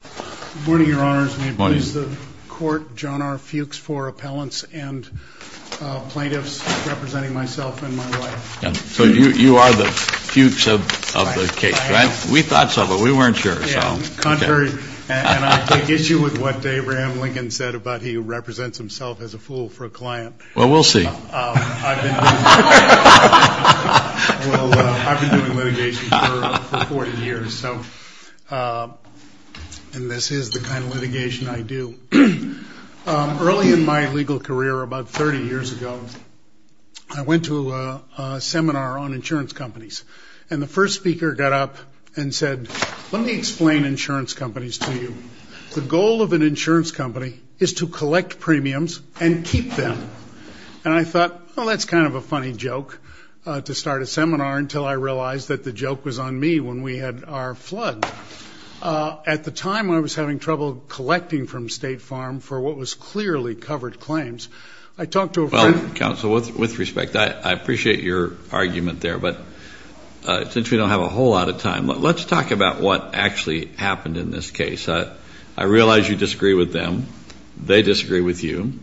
Good morning, your honors. May it please the court, John R. Fuchs for appellants and plaintiffs representing myself and my wife. So you are the Fuchs of the case, right? We thought so, but we weren't sure. Yeah, contrary. And I take issue with what Abraham Lincoln said about he represents himself as a fool for a client. Well, we'll see. Well, I've been doing litigation for 40 years, and this is the kind of litigation I do. Early in my legal career, about 30 years ago, I went to a seminar on insurance companies, and the first speaker got up and said, let me explain insurance companies to you. The goal of an insurance company is to collect premiums and keep them. And I thought, well, that's kind of a funny joke to start a seminar until I realized that the joke was on me when we had our flood. At the time, I was having trouble collecting from State Farm for what was clearly covered claims. I talked to a friend. Well, counsel, with respect, I appreciate your argument there, but since we don't have a whole lot of time, let's talk about what actually happened in this case. I realize you disagree with them. They disagree with you.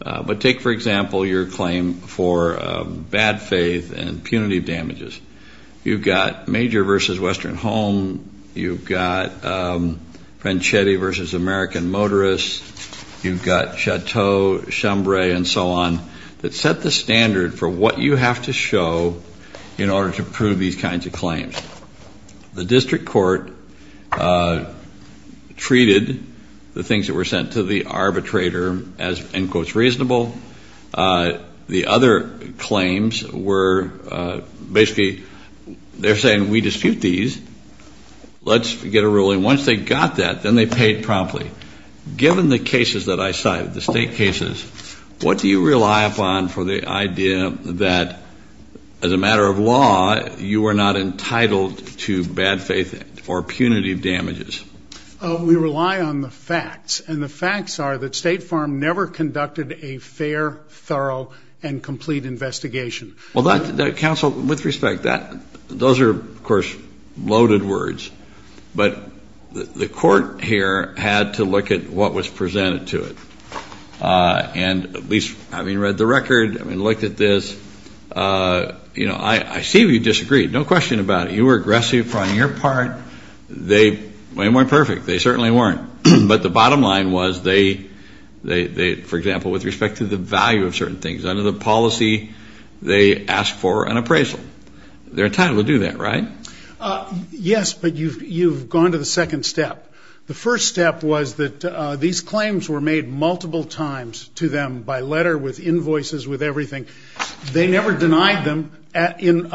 But take, for example, your claim for bad faith and punitive damages. You've got Major v. Western Home. You've got Franchetti v. American Motorists. You've got Chateau, Chambre, and so on that set the standard for what you have to show in order to prove these kinds of claims. The district court treated the things that were sent to the arbitrator as, in quotes, reasonable. The other claims were basically they're saying we dispute these. Let's get a ruling. Once they got that, then they paid promptly. Given the cases that I cite, the state cases, what do you rely upon for the idea that, as a matter of law, you are not entitled to bad faith or punitive damages? We rely on the facts, and the facts are that State Farm never conducted a fair, thorough, and complete investigation. Well, counsel, with respect, those are, of course, loaded words. But the court here had to look at what was presented to it. And at least having read the record and looked at this, you know, I see you disagreed. No question about it. You were aggressive on your part. They weren't perfect. They certainly weren't. But the bottom line was they, for example, with respect to the value of certain things under the policy, they asked for an appraisal. They're entitled to do that, right? Yes, but you've gone to the second step. The first step was that these claims were made multiple times to them by letter, with invoices, with everything. They never denied them at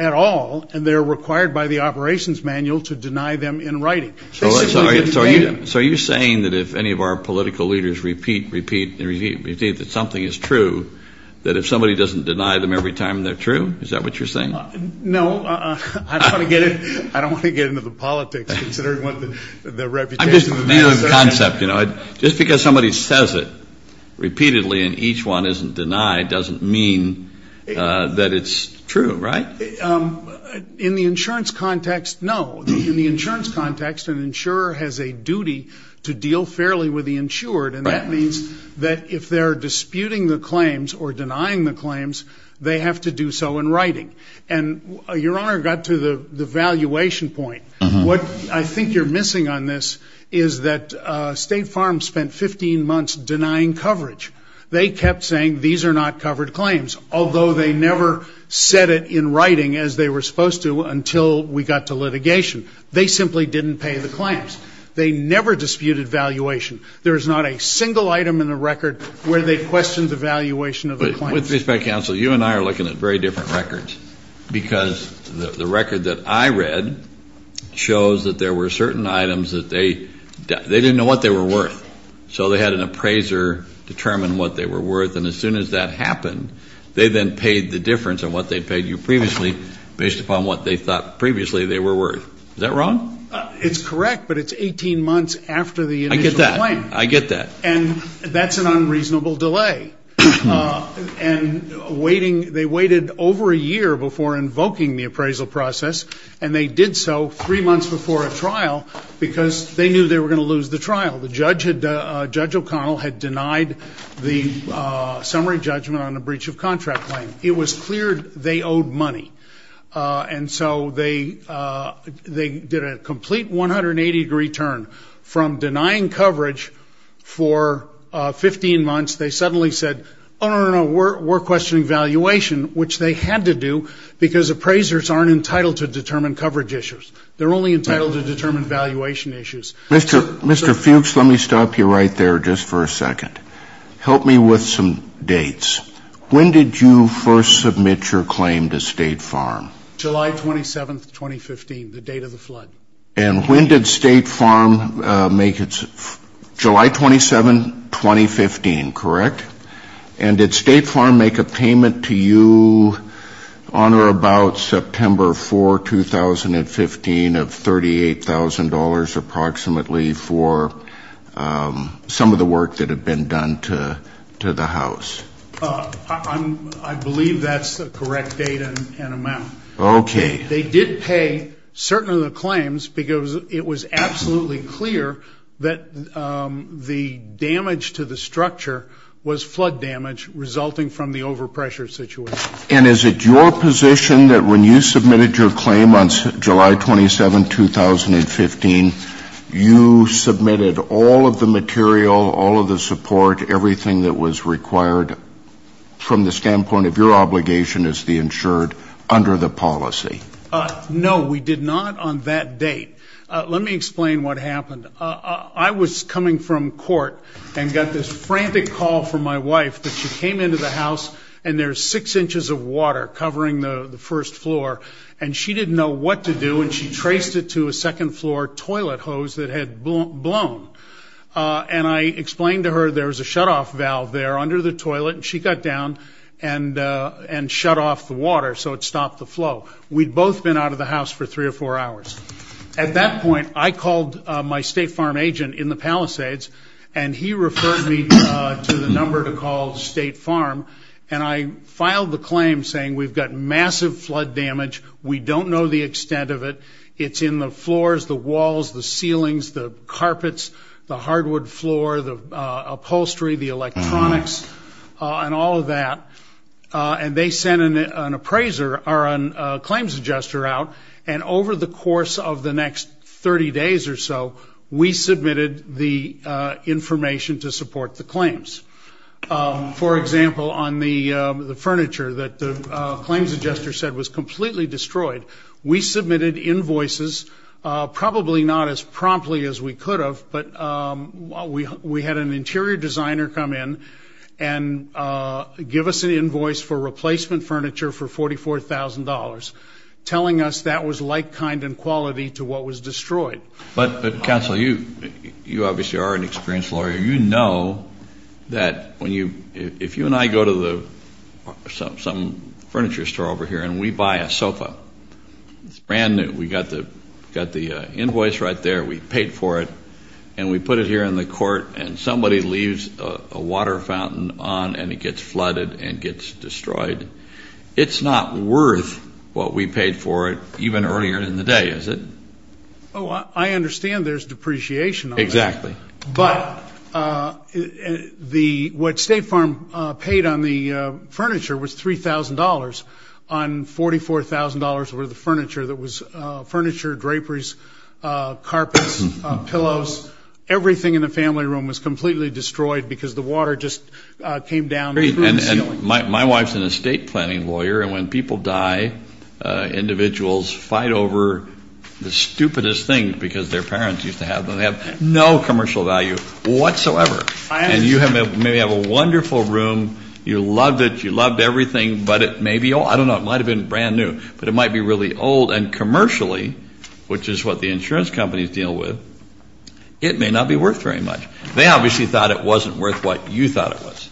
all, and they're required by the operations manual to deny them in writing. So are you saying that if any of our political leaders repeat, repeat, and repeat that something is true, that if somebody doesn't deny them every time, they're true? Is that what you're saying? No. I don't want to get into the politics, considering what the reputation of the man is saying. I'm just naming the concept, you know. Just because somebody says it repeatedly and each one isn't denied doesn't mean that it's true, right? In the insurance context, no. In the insurance context, an insurer has a duty to deal fairly with the insured, and that means that if they're disputing the claims or denying the claims, they have to do so in writing. And Your Honor got to the valuation point. What I think you're missing on this is that State Farm spent 15 months denying coverage. They kept saying these are not covered claims, although they never said it in writing as they were supposed to until we got to litigation. They simply didn't pay the claims. They never disputed valuation. There is not a single item in the record where they questioned the valuation of the claims. With respect, counsel, you and I are looking at very different records, because the record that I read shows that there were certain items that they didn't know what they were worth. So they had an appraiser determine what they were worth, and as soon as that happened, they then paid the difference on what they paid you previously based upon what they thought previously they were worth. Is that wrong? I get that. I get that. And that's an unreasonable delay. And they waited over a year before invoking the appraisal process, and they did so three months before a trial because they knew they were going to lose the trial. Judge O'Connell had denied the summary judgment on a breach of contract claim. It was clear they owed money. And so they did a complete 180-degree turn from denying coverage for 15 months. They suddenly said, oh, no, no, no, we're questioning valuation, which they had to do because appraisers aren't entitled to determine coverage issues. They're only entitled to determine valuation issues. Mr. Fuchs, let me stop you right there just for a second. Help me with some dates. When did you first submit your claim to State Farm? July 27, 2015, the date of the flood. And when did State Farm make its ‑‑ July 27, 2015, correct? And did State Farm make a payment to you on or about September 4, 2015, of $38,000 approximately for some of the work that had been done to the house? I believe that's the correct date and amount. Okay. They did pay certain of the claims because it was absolutely clear that the damage to the structure was flood damage resulting from the overpressure situation. And is it your position that when you submitted your claim on July 27, 2015, you submitted all of the material, all of the support, everything that was required from the standpoint of your obligation as the insured under the policy? No, we did not on that date. Let me explain what happened. I was coming from court and got this frantic call from my wife that she came into the house and there was six inches of water covering the first floor. And she didn't know what to do and she traced it to a second floor toilet hose that had blown. And I explained to her there was a shutoff valve there under the toilet and she got down and shut off the water so it stopped the flow. We'd both been out of the house for three or four hours. At that point, I called my State Farm agent in the Palisades and he referred me to the number to call State Farm. And I filed the claim saying we've got massive flood damage, we don't know the extent of it, it's in the floors, the walls, the ceilings, the carpets, the hardwood floor, the upholstery, the electronics, and all of that. And they sent an appraiser or a claims adjuster out. And over the course of the next 30 days or so, we submitted the information to support the claims. For example, on the furniture that the claims adjuster said was completely destroyed, we submitted invoices, probably not as promptly as we could have, but we had an interior designer come in and give us an invoice for replacement furniture for $44,000, telling us that was like, kind, and quality to what was destroyed. But, Counsel, you obviously are an experienced lawyer. You know that if you and I go to some furniture store over here and we buy a sofa, it's brand new, we've got the invoice right there, we've paid for it, and we put it here in the court and somebody leaves a water fountain on and it gets flooded and gets destroyed, it's not worth what we paid for it even earlier in the day, is it? Oh, I understand there's depreciation on that. Exactly. But what State Farm paid on the furniture was $3,000. On $44,000 were the furniture that was furniture, draperies, carpets, pillows, everything in the family room was completely destroyed because the water just came down through the ceiling. And my wife's an estate planning lawyer, and when people die, individuals fight over the stupidest things because their parents used to have them. They have no commercial value whatsoever. And you may have a wonderful room, you loved it, you loved everything, but it may be old. I don't know. It might have been brand new, but it might be really old. And commercially, which is what the insurance companies deal with, it may not be worth very much. They obviously thought it wasn't worth what you thought it was.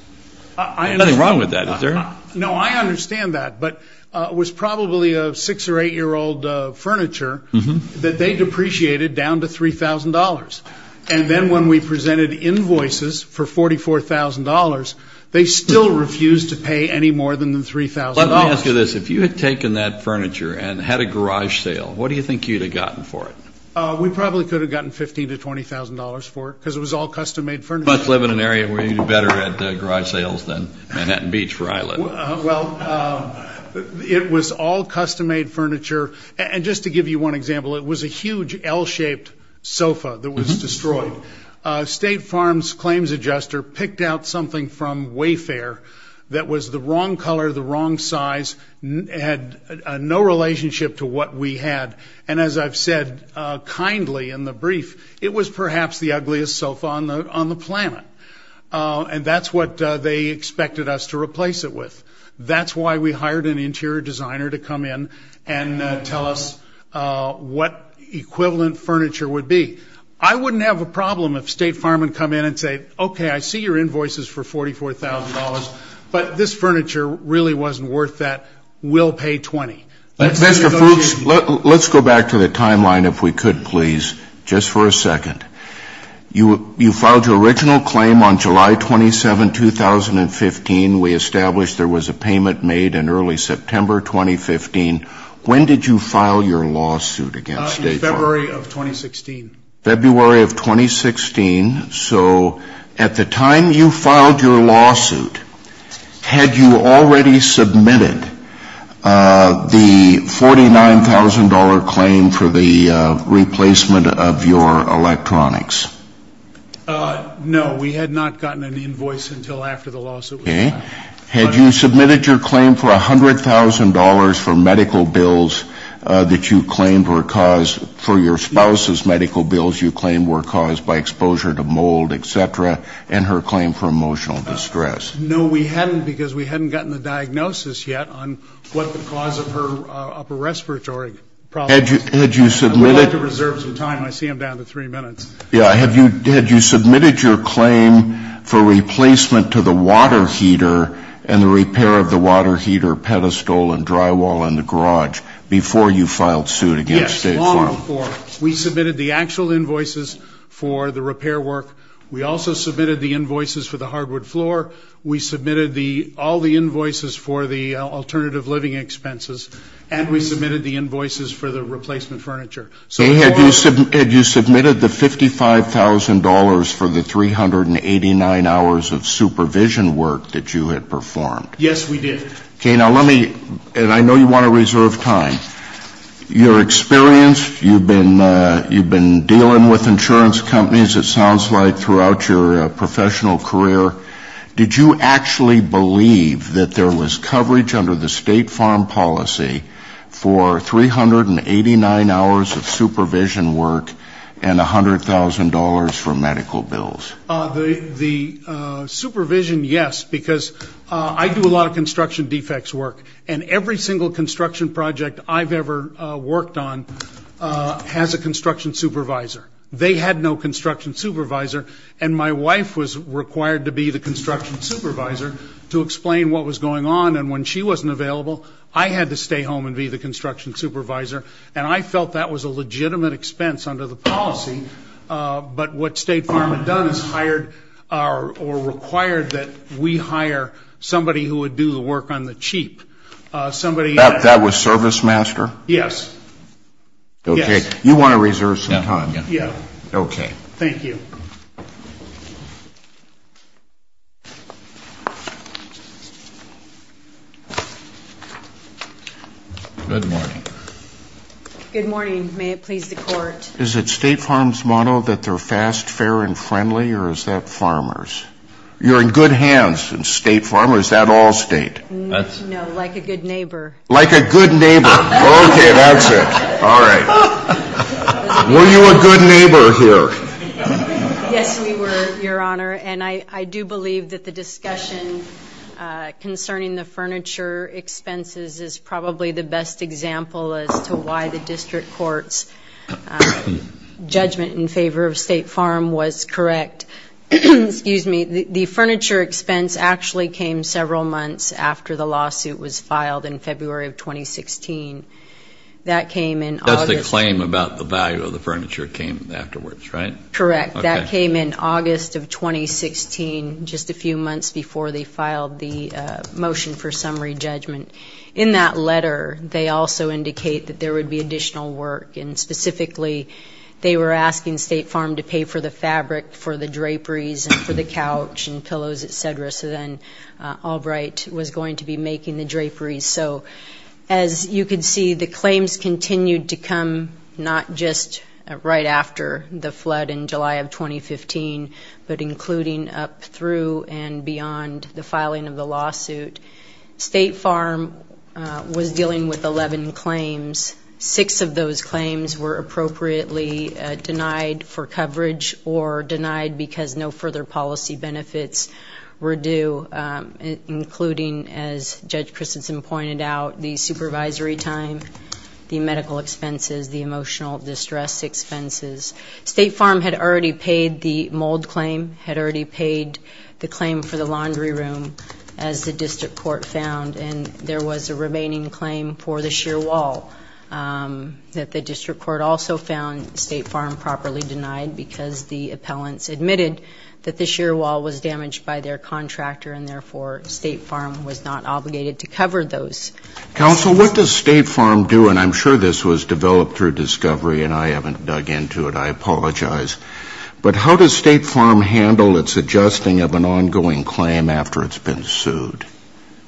There's nothing wrong with that, is there? No, I understand that. But it was probably a six- or eight-year-old furniture that they depreciated down to $3,000. And then when we presented invoices for $44,000, they still refused to pay any more than the $3,000. Let me ask you this. If you had taken that furniture and had a garage sale, what do you think you would have gotten for it? We probably could have gotten $15,000 to $20,000 for it because it was all custom-made furniture. You must live in an area where you do better at garage sales than Manhattan Beach where I live. Well, it was all custom-made furniture. And just to give you one example, it was a huge L-shaped sofa that was destroyed. State Farms Claims Adjuster picked out something from Wayfair that was the wrong color, the wrong size, had no relationship to what we had. And as I've said kindly in the brief, it was perhaps the ugliest sofa on the planet. And that's what they expected us to replace it with. That's why we hired an interior designer to come in and tell us what equivalent furniture would be. I wouldn't have a problem if State Farm had come in and said, okay, I see your invoices for $44,000, but this furniture really wasn't worth that. We'll pay $20,000. Mr. Fuchs, let's go back to the timeline if we could, please, just for a second. You filed your original claim on July 27, 2015. We established there was a payment made in early September 2015. When did you file your lawsuit against State Farm? In February of 2016. February of 2016. So at the time you filed your lawsuit, had you already submitted the $49,000 claim for the replacement of your electronics? No, we had not gotten an invoice until after the lawsuit was filed. Okay. Had you submitted your claim for $100,000 for medical bills that you claimed were caused, for your spouse's medical bills you claimed were caused by exposure to mold, et cetera, and her claim for emotional distress? No, we hadn't because we hadn't gotten the diagnosis yet on what the cause of her upper respiratory problem was. Had you submitted? I'd like to reserve some time. I see I'm down to three minutes. Yeah. Had you submitted your claim for replacement to the water heater and the repair of the water heater pedestal and drywall in the garage before you filed suit against State Farm? We submitted the actual invoices for the repair work. We also submitted the invoices for the hardwood floor. We submitted all the invoices for the alternative living expenses, and we submitted the invoices for the replacement furniture. Had you submitted the $55,000 for the 389 hours of supervision work that you had performed? Yes, we did. Okay. Now let me, and I know you want to reserve time. Your experience, you've been dealing with insurance companies, it sounds like, throughout your professional career. Did you actually believe that there was coverage under the State Farm policy for 389 hours of supervision work and $100,000 for medical bills? The supervision, yes, because I do a lot of construction defects work, and every single construction project I've ever worked on has a construction supervisor. They had no construction supervisor, and my wife was required to be the construction supervisor to explain what was going on, and when she wasn't available, I had to stay home and be the construction supervisor, and I felt that was a legitimate expense under the policy. But what State Farm had done is hired or required that we hire somebody who would do the work on the cheap. That was ServiceMaster? Yes. Okay. You want to reserve some time. Yes. Okay. Thank you. Good morning. Good morning. May it please the Court. Is it State Farm's motto that they're fast, fair, and friendly, or is that farmers? You're in good hands in State Farm, or is that all state? No, like a good neighbor. Like a good neighbor. Okay, that's it. All right. Were you a good neighbor here? Yes, we were, Your Honor, and I do believe that the discussion concerning the furniture expenses is probably the best example as to why the district court's judgment in favor of State Farm was correct. The furniture expense actually came several months after the lawsuit was filed in February of 2016. That came in August. That's the claim about the value of the furniture came afterwards, right? Correct. That came in August of 2016, just a few months before they filed the motion for summary judgment. In that letter, they also indicate that there would be additional work, and specifically they were asking State Farm to pay for the fabric for the draperies and for the couch and pillows, et cetera, so then Albright was going to be making the draperies. So as you can see, the claims continued to come not just right after the flood in July of 2015, but including up through and beyond the filing of the lawsuit. State Farm was dealing with 11 claims. Six of those claims were appropriately denied for coverage or denied because no further policy benefits were due, including, as Judge Christensen pointed out, the supervisory time, the medical expenses, the emotional distress expenses. State Farm had already paid the mold claim, had already paid the claim for the laundry room, as the district court found, and there was a remaining claim for the sheer wall that the district court also found State Farm properly denied because the appellants admitted that the sheer wall was damaged by their contractor and therefore State Farm was not obligated to cover those. Counsel, what does State Farm do? And I'm sure this was developed through discovery, and I haven't dug into it. I apologize. But how does State Farm handle its adjusting of an ongoing claim after it's been sued?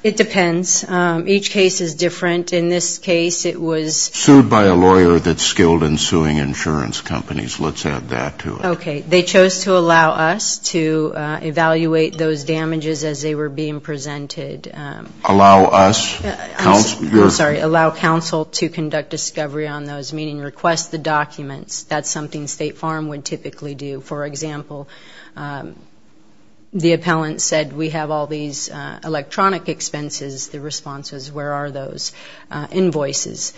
It depends. Each case is different. In this case, it was sued by a lawyer that's skilled in suing insurance companies. Let's add that to it. Okay. They chose to allow us to evaluate those damages as they were being presented. Allow us? I'm sorry. Allow counsel to conduct discovery on those, meaning request the documents. That's something State Farm would typically do. For example, the appellant said, we have all these electronic expenses. The response was, where are those invoices?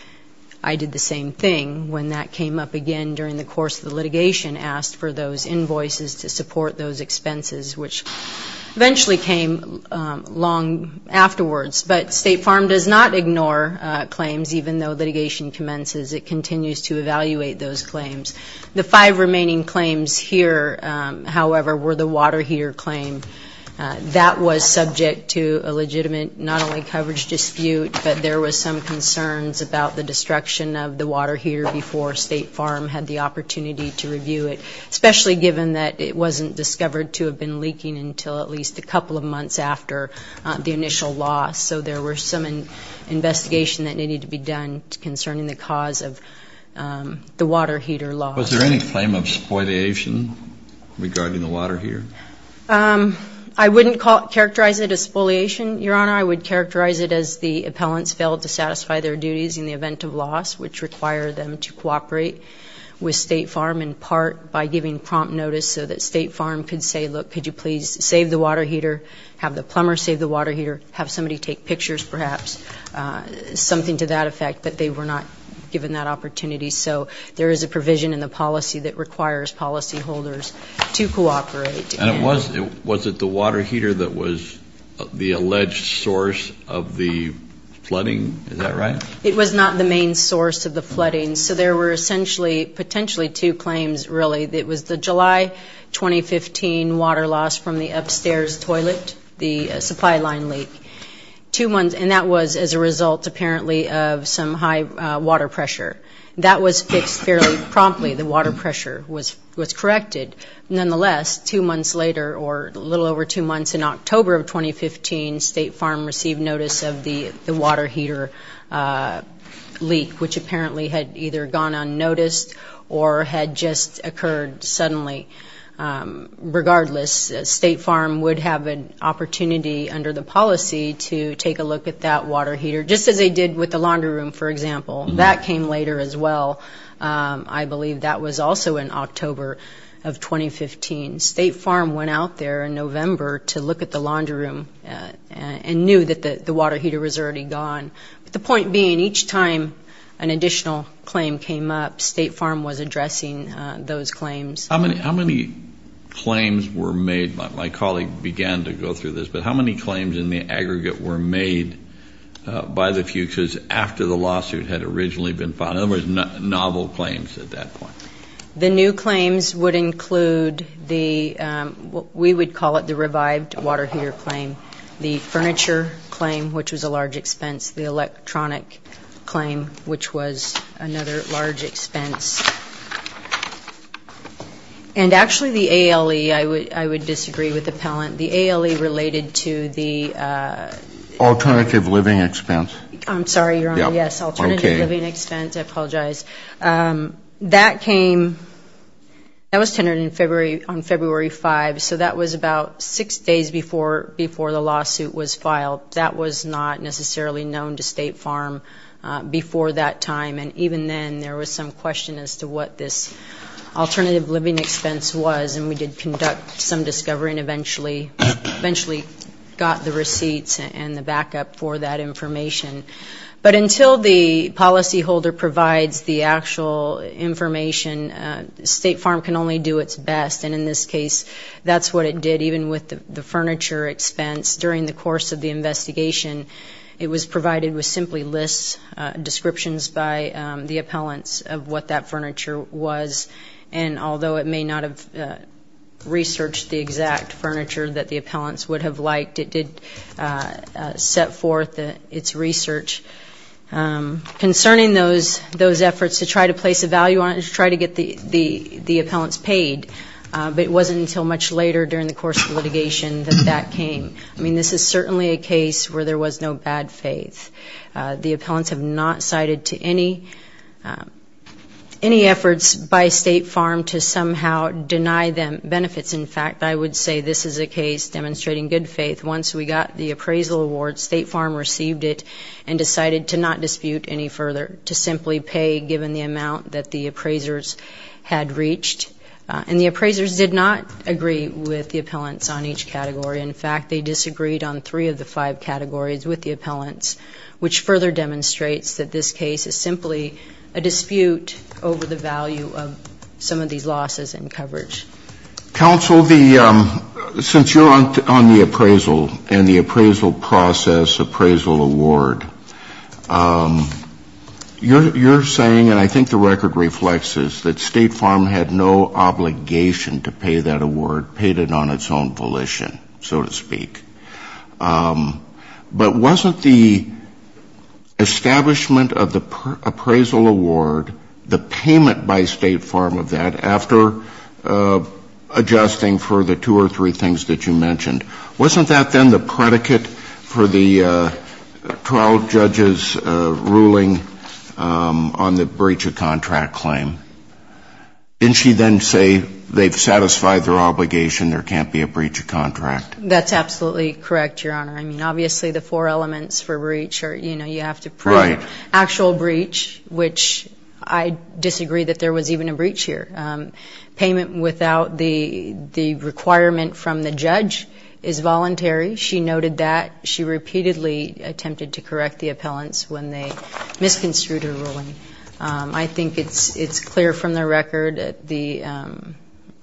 I did the same thing when that came up again during the course of the litigation, asked for those invoices to support those expenses, which eventually came long afterwards. But State Farm does not ignore claims, even though litigation commences. It continues to evaluate those claims. The five remaining claims here, however, were the water heater claim. That was subject to a legitimate not only coverage dispute, but there was some concerns about the destruction of the water heater before State Farm had the opportunity to review it, especially given that it wasn't discovered to have been leaking until at least a couple of months after the initial loss. So there was some investigation that needed to be done concerning the cause of the water heater loss. Was there any claim of spoliation regarding the water heater? I wouldn't characterize it as spoliation, Your Honor. I would characterize it as the appellants failed to satisfy their duties in the event of loss, which required them to cooperate with State Farm in part by giving prompt notice so that State Farm could say, look, could you please save the water heater, have the plumber save the water heater, have somebody take pictures perhaps, something to that effect, but they were not given that opportunity. So there is a provision in the policy that requires policyholders to cooperate. And was it the water heater that was the alleged source of the flooding? Is that right? It was not the main source of the flooding. So there were essentially potentially two claims really. It was the July 2015 water loss from the upstairs toilet, the supply line leak, and that was as a result apparently of some high water pressure. That was fixed fairly promptly. The water pressure was corrected. Nonetheless, two months later or a little over two months in October of 2015, State Farm received notice of the water heater leak, which apparently had either gone unnoticed or had just occurred suddenly. Regardless, State Farm would have an opportunity under the policy to take a look at that water heater, just as they did with the laundry room, for example. That came later as well. I believe that was also in October of 2015. State Farm went out there in November to look at the laundry room and knew that the water heater was already gone, but the point being each time an additional claim came up, State Farm was addressing those claims. How many claims were made? My colleague began to go through this, but how many claims in the aggregate were made by the fugitives after the lawsuit had originally been filed? In other words, novel claims at that point. The new claims would include the, we would call it the revived water heater claim, the furniture claim, which was a large expense, the electronic claim, which was another large expense, and actually the ALE, I would disagree with Appellant, the ALE related to the Alternative Living Expense. I'm sorry, Your Honor. Yes, Alternative Living Expense. I apologize. That came, that was tendered on February 5, so that was about six days before the lawsuit was filed. That was not necessarily known to State Farm before that time, and even then there was some question as to what this Alternative Living Expense was, and we did conduct some discovery and eventually got the receipts and the backup for that information. But until the policyholder provides the actual information, State Farm can only do its best, and in this case that's what it did, even with the furniture expense. During the course of the investigation, it was provided with simply lists, descriptions by the appellants of what that furniture was, and although it may not have researched the exact furniture that the appellants would have liked, it did set forth its research concerning those efforts to try to place a value on it, to try to get the appellants paid. But it wasn't until much later during the course of litigation that that came. I mean, this is certainly a case where there was no bad faith. The appellants have not cited to any efforts by State Farm to somehow deny them benefits. In fact, I would say this is a case demonstrating good faith. Once we got the appraisal award, State Farm received it and decided to not dispute any further, to simply pay given the amount that the appraisers had reached. And the appraisers did not agree with the appellants on each category. In fact, they disagreed on three of the five categories with the appellants, which further demonstrates that this case is simply a dispute over the value of some of these losses in coverage. Counsel, since you're on the appraisal and the appraisal process, appraisal award, you're saying, and I think the record reflects this, that State Farm had no obligation to pay that award, paid it on its own volition, so to speak. But wasn't the establishment of the appraisal award, the payment by State Farm of that, after adjusting for the two or three things that you mentioned, wasn't that then the predicate for the trial judge's ruling on the breach of contract claim? Didn't she then say they've satisfied their obligation, there can't be a breach of contract? That's absolutely correct, Your Honor. I mean, obviously the four elements for breach are, you know, you have to prove actual breach, which I disagree that there was even a breach here. Payment without the requirement from the judge is voluntary. She noted that. She repeatedly attempted to correct the appellants when they misconstrued her ruling. I think it's clear from the record, the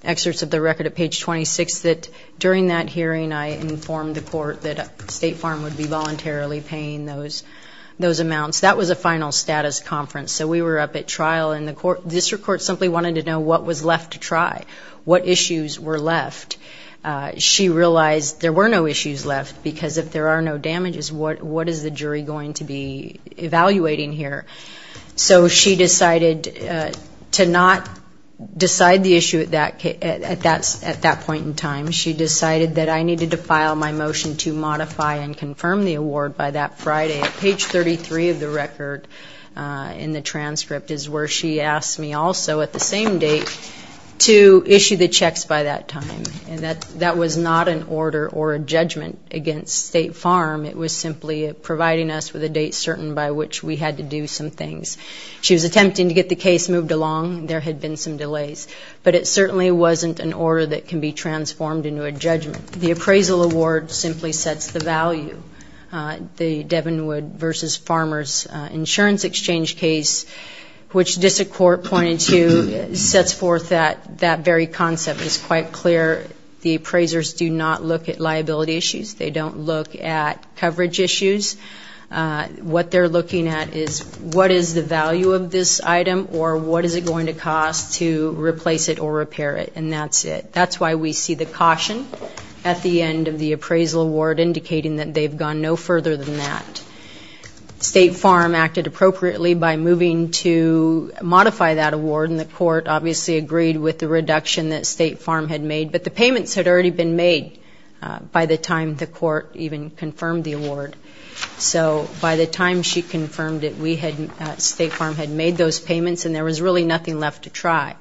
excerpts of the record at page 26, that during that hearing I informed the court that State Farm would be voluntarily paying those amounts. That was a final status conference, so we were up at trial, and the district court simply wanted to know what was left to try, what issues were left. She realized there were no issues left because if there are no damages, what is the jury going to be evaluating here? So she decided to not decide the issue at that point in time. She decided that I needed to file my motion to modify and confirm the award by that Friday. Page 33 of the record in the transcript is where she asked me also at the same date to issue the checks by that time. And that was not an order or a judgment against State Farm. It was simply providing us with a date certain by which we had to do some things. She was attempting to get the case moved along. There had been some delays. But it certainly wasn't an order that can be transformed into a judgment. The appraisal award simply sets the value. The Devenwood v. Farmers insurance exchange case, which the district court pointed to, sets forth that very concept. It's quite clear the appraisers do not look at liability issues. They don't look at coverage issues. What they're looking at is what is the value of this item or what is it going to cost to replace it or repair it, and that's it. That's why we see the caution at the end of the appraisal award indicating that they've gone no further than that. State Farm acted appropriately by moving to modify that award, and the court obviously agreed with the reduction that State Farm had made. But the payments had already been made by the time the court even confirmed the award. So by the time she confirmed it, State Farm had made those payments and there was really nothing left to try.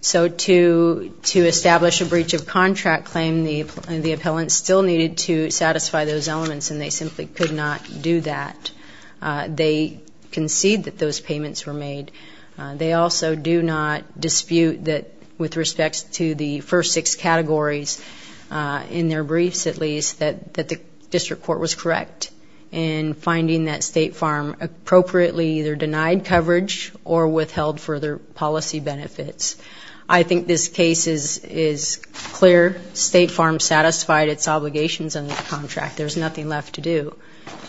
So to establish a breach of contract claim, the appellant still needed to satisfy those elements, and they simply could not do that. They concede that those payments were made. They also do not dispute that with respect to the first six categories, in their briefs at least, that the district court was correct in finding that State Farm appropriately either denied coverage or withheld further policy benefits. I think this case is clear. State Farm satisfied its obligations under the contract. There's nothing left to do.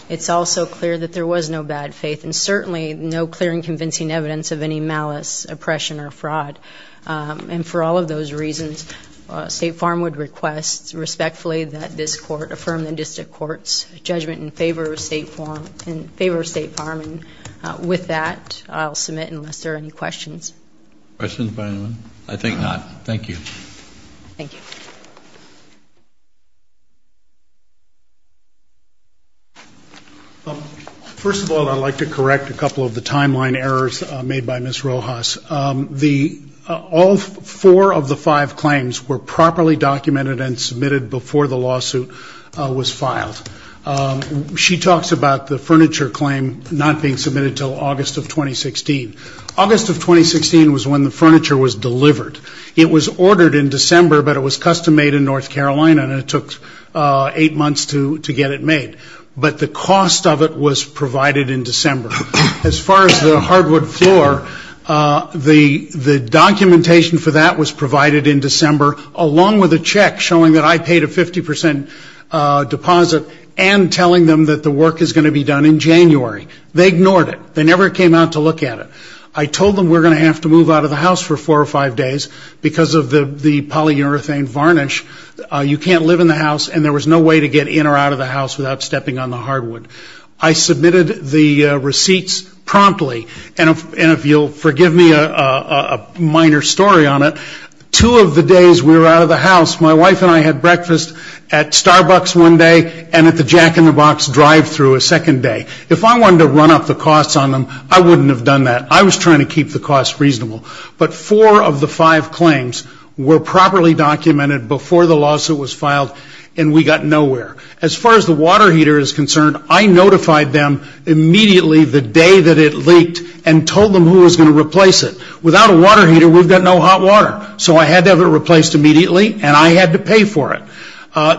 It's also clear that there was no bad faith, and certainly no clear and convincing evidence of any malice, oppression, or fraud. And for all of those reasons, State Farm would request respectfully that this court affirm the district court's judgment in favor of State Farm. With that, I'll submit unless there are any questions. Questions by anyone? I think not. Thank you. Thank you. First of all, I'd like to correct a couple of the timeline errors made by Ms. Rojas. All four of the five claims were properly documented and submitted before the lawsuit was filed. She talks about the furniture claim not being submitted until August of 2016. August of 2016 was when the furniture was delivered. It was ordered in December, but it was custom-made in North Carolina, and it took eight months to get it made. But the cost of it was provided in December. As far as the hardwood floor, the documentation for that was provided in December, along with a check showing that I paid a 50 percent deposit and telling them that the work is going to be done in January. They ignored it. They never came out to look at it. I told them we're going to have to move out of the house for four or five days because of the polyurethane varnish. You can't live in the house, and there was no way to get in or out of the house without stepping on the hardwood. I submitted the receipts promptly. And if you'll forgive me a minor story on it, two of the days we were out of the house, my wife and I had breakfast at Starbucks one day and at the Jack in the Box drive-thru a second day. If I wanted to run up the costs on them, I wouldn't have done that. I was trying to keep the costs reasonable. But four of the five claims were properly documented before the lawsuit was filed, and we got nowhere. As far as the water heater is concerned, I notified them immediately the day that it leaked and told them who was going to replace it. Without a water heater, we've got no hot water. So I had to have it replaced immediately, and I had to pay for it.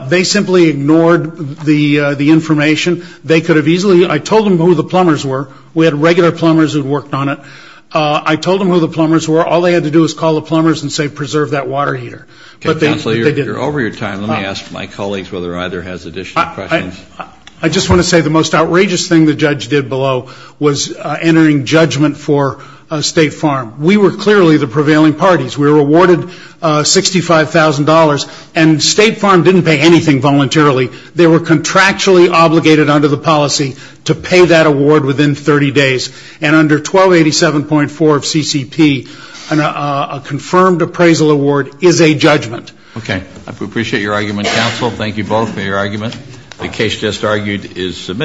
They simply ignored the information. They could have easily – I told them who the plumbers were. We had regular plumbers who had worked on it. I told them who the plumbers were. All they had to do was call the plumbers and say, preserve that water heater. But they didn't. Okay, Counselor, you're over your time. Let me ask my colleagues whether either has additional questions. I just want to say the most outrageous thing the judge did below was entering judgment for State Farm. We were clearly the prevailing parties. We were awarded $65,000, and State Farm didn't pay anything voluntarily. They were contractually obligated under the policy to pay that award within 30 days. And under 1287.4 of CCP, a confirmed appraisal award is a judgment. Okay. I appreciate your argument, Counsel. Thank you both for your argument. The case just argued is submitted.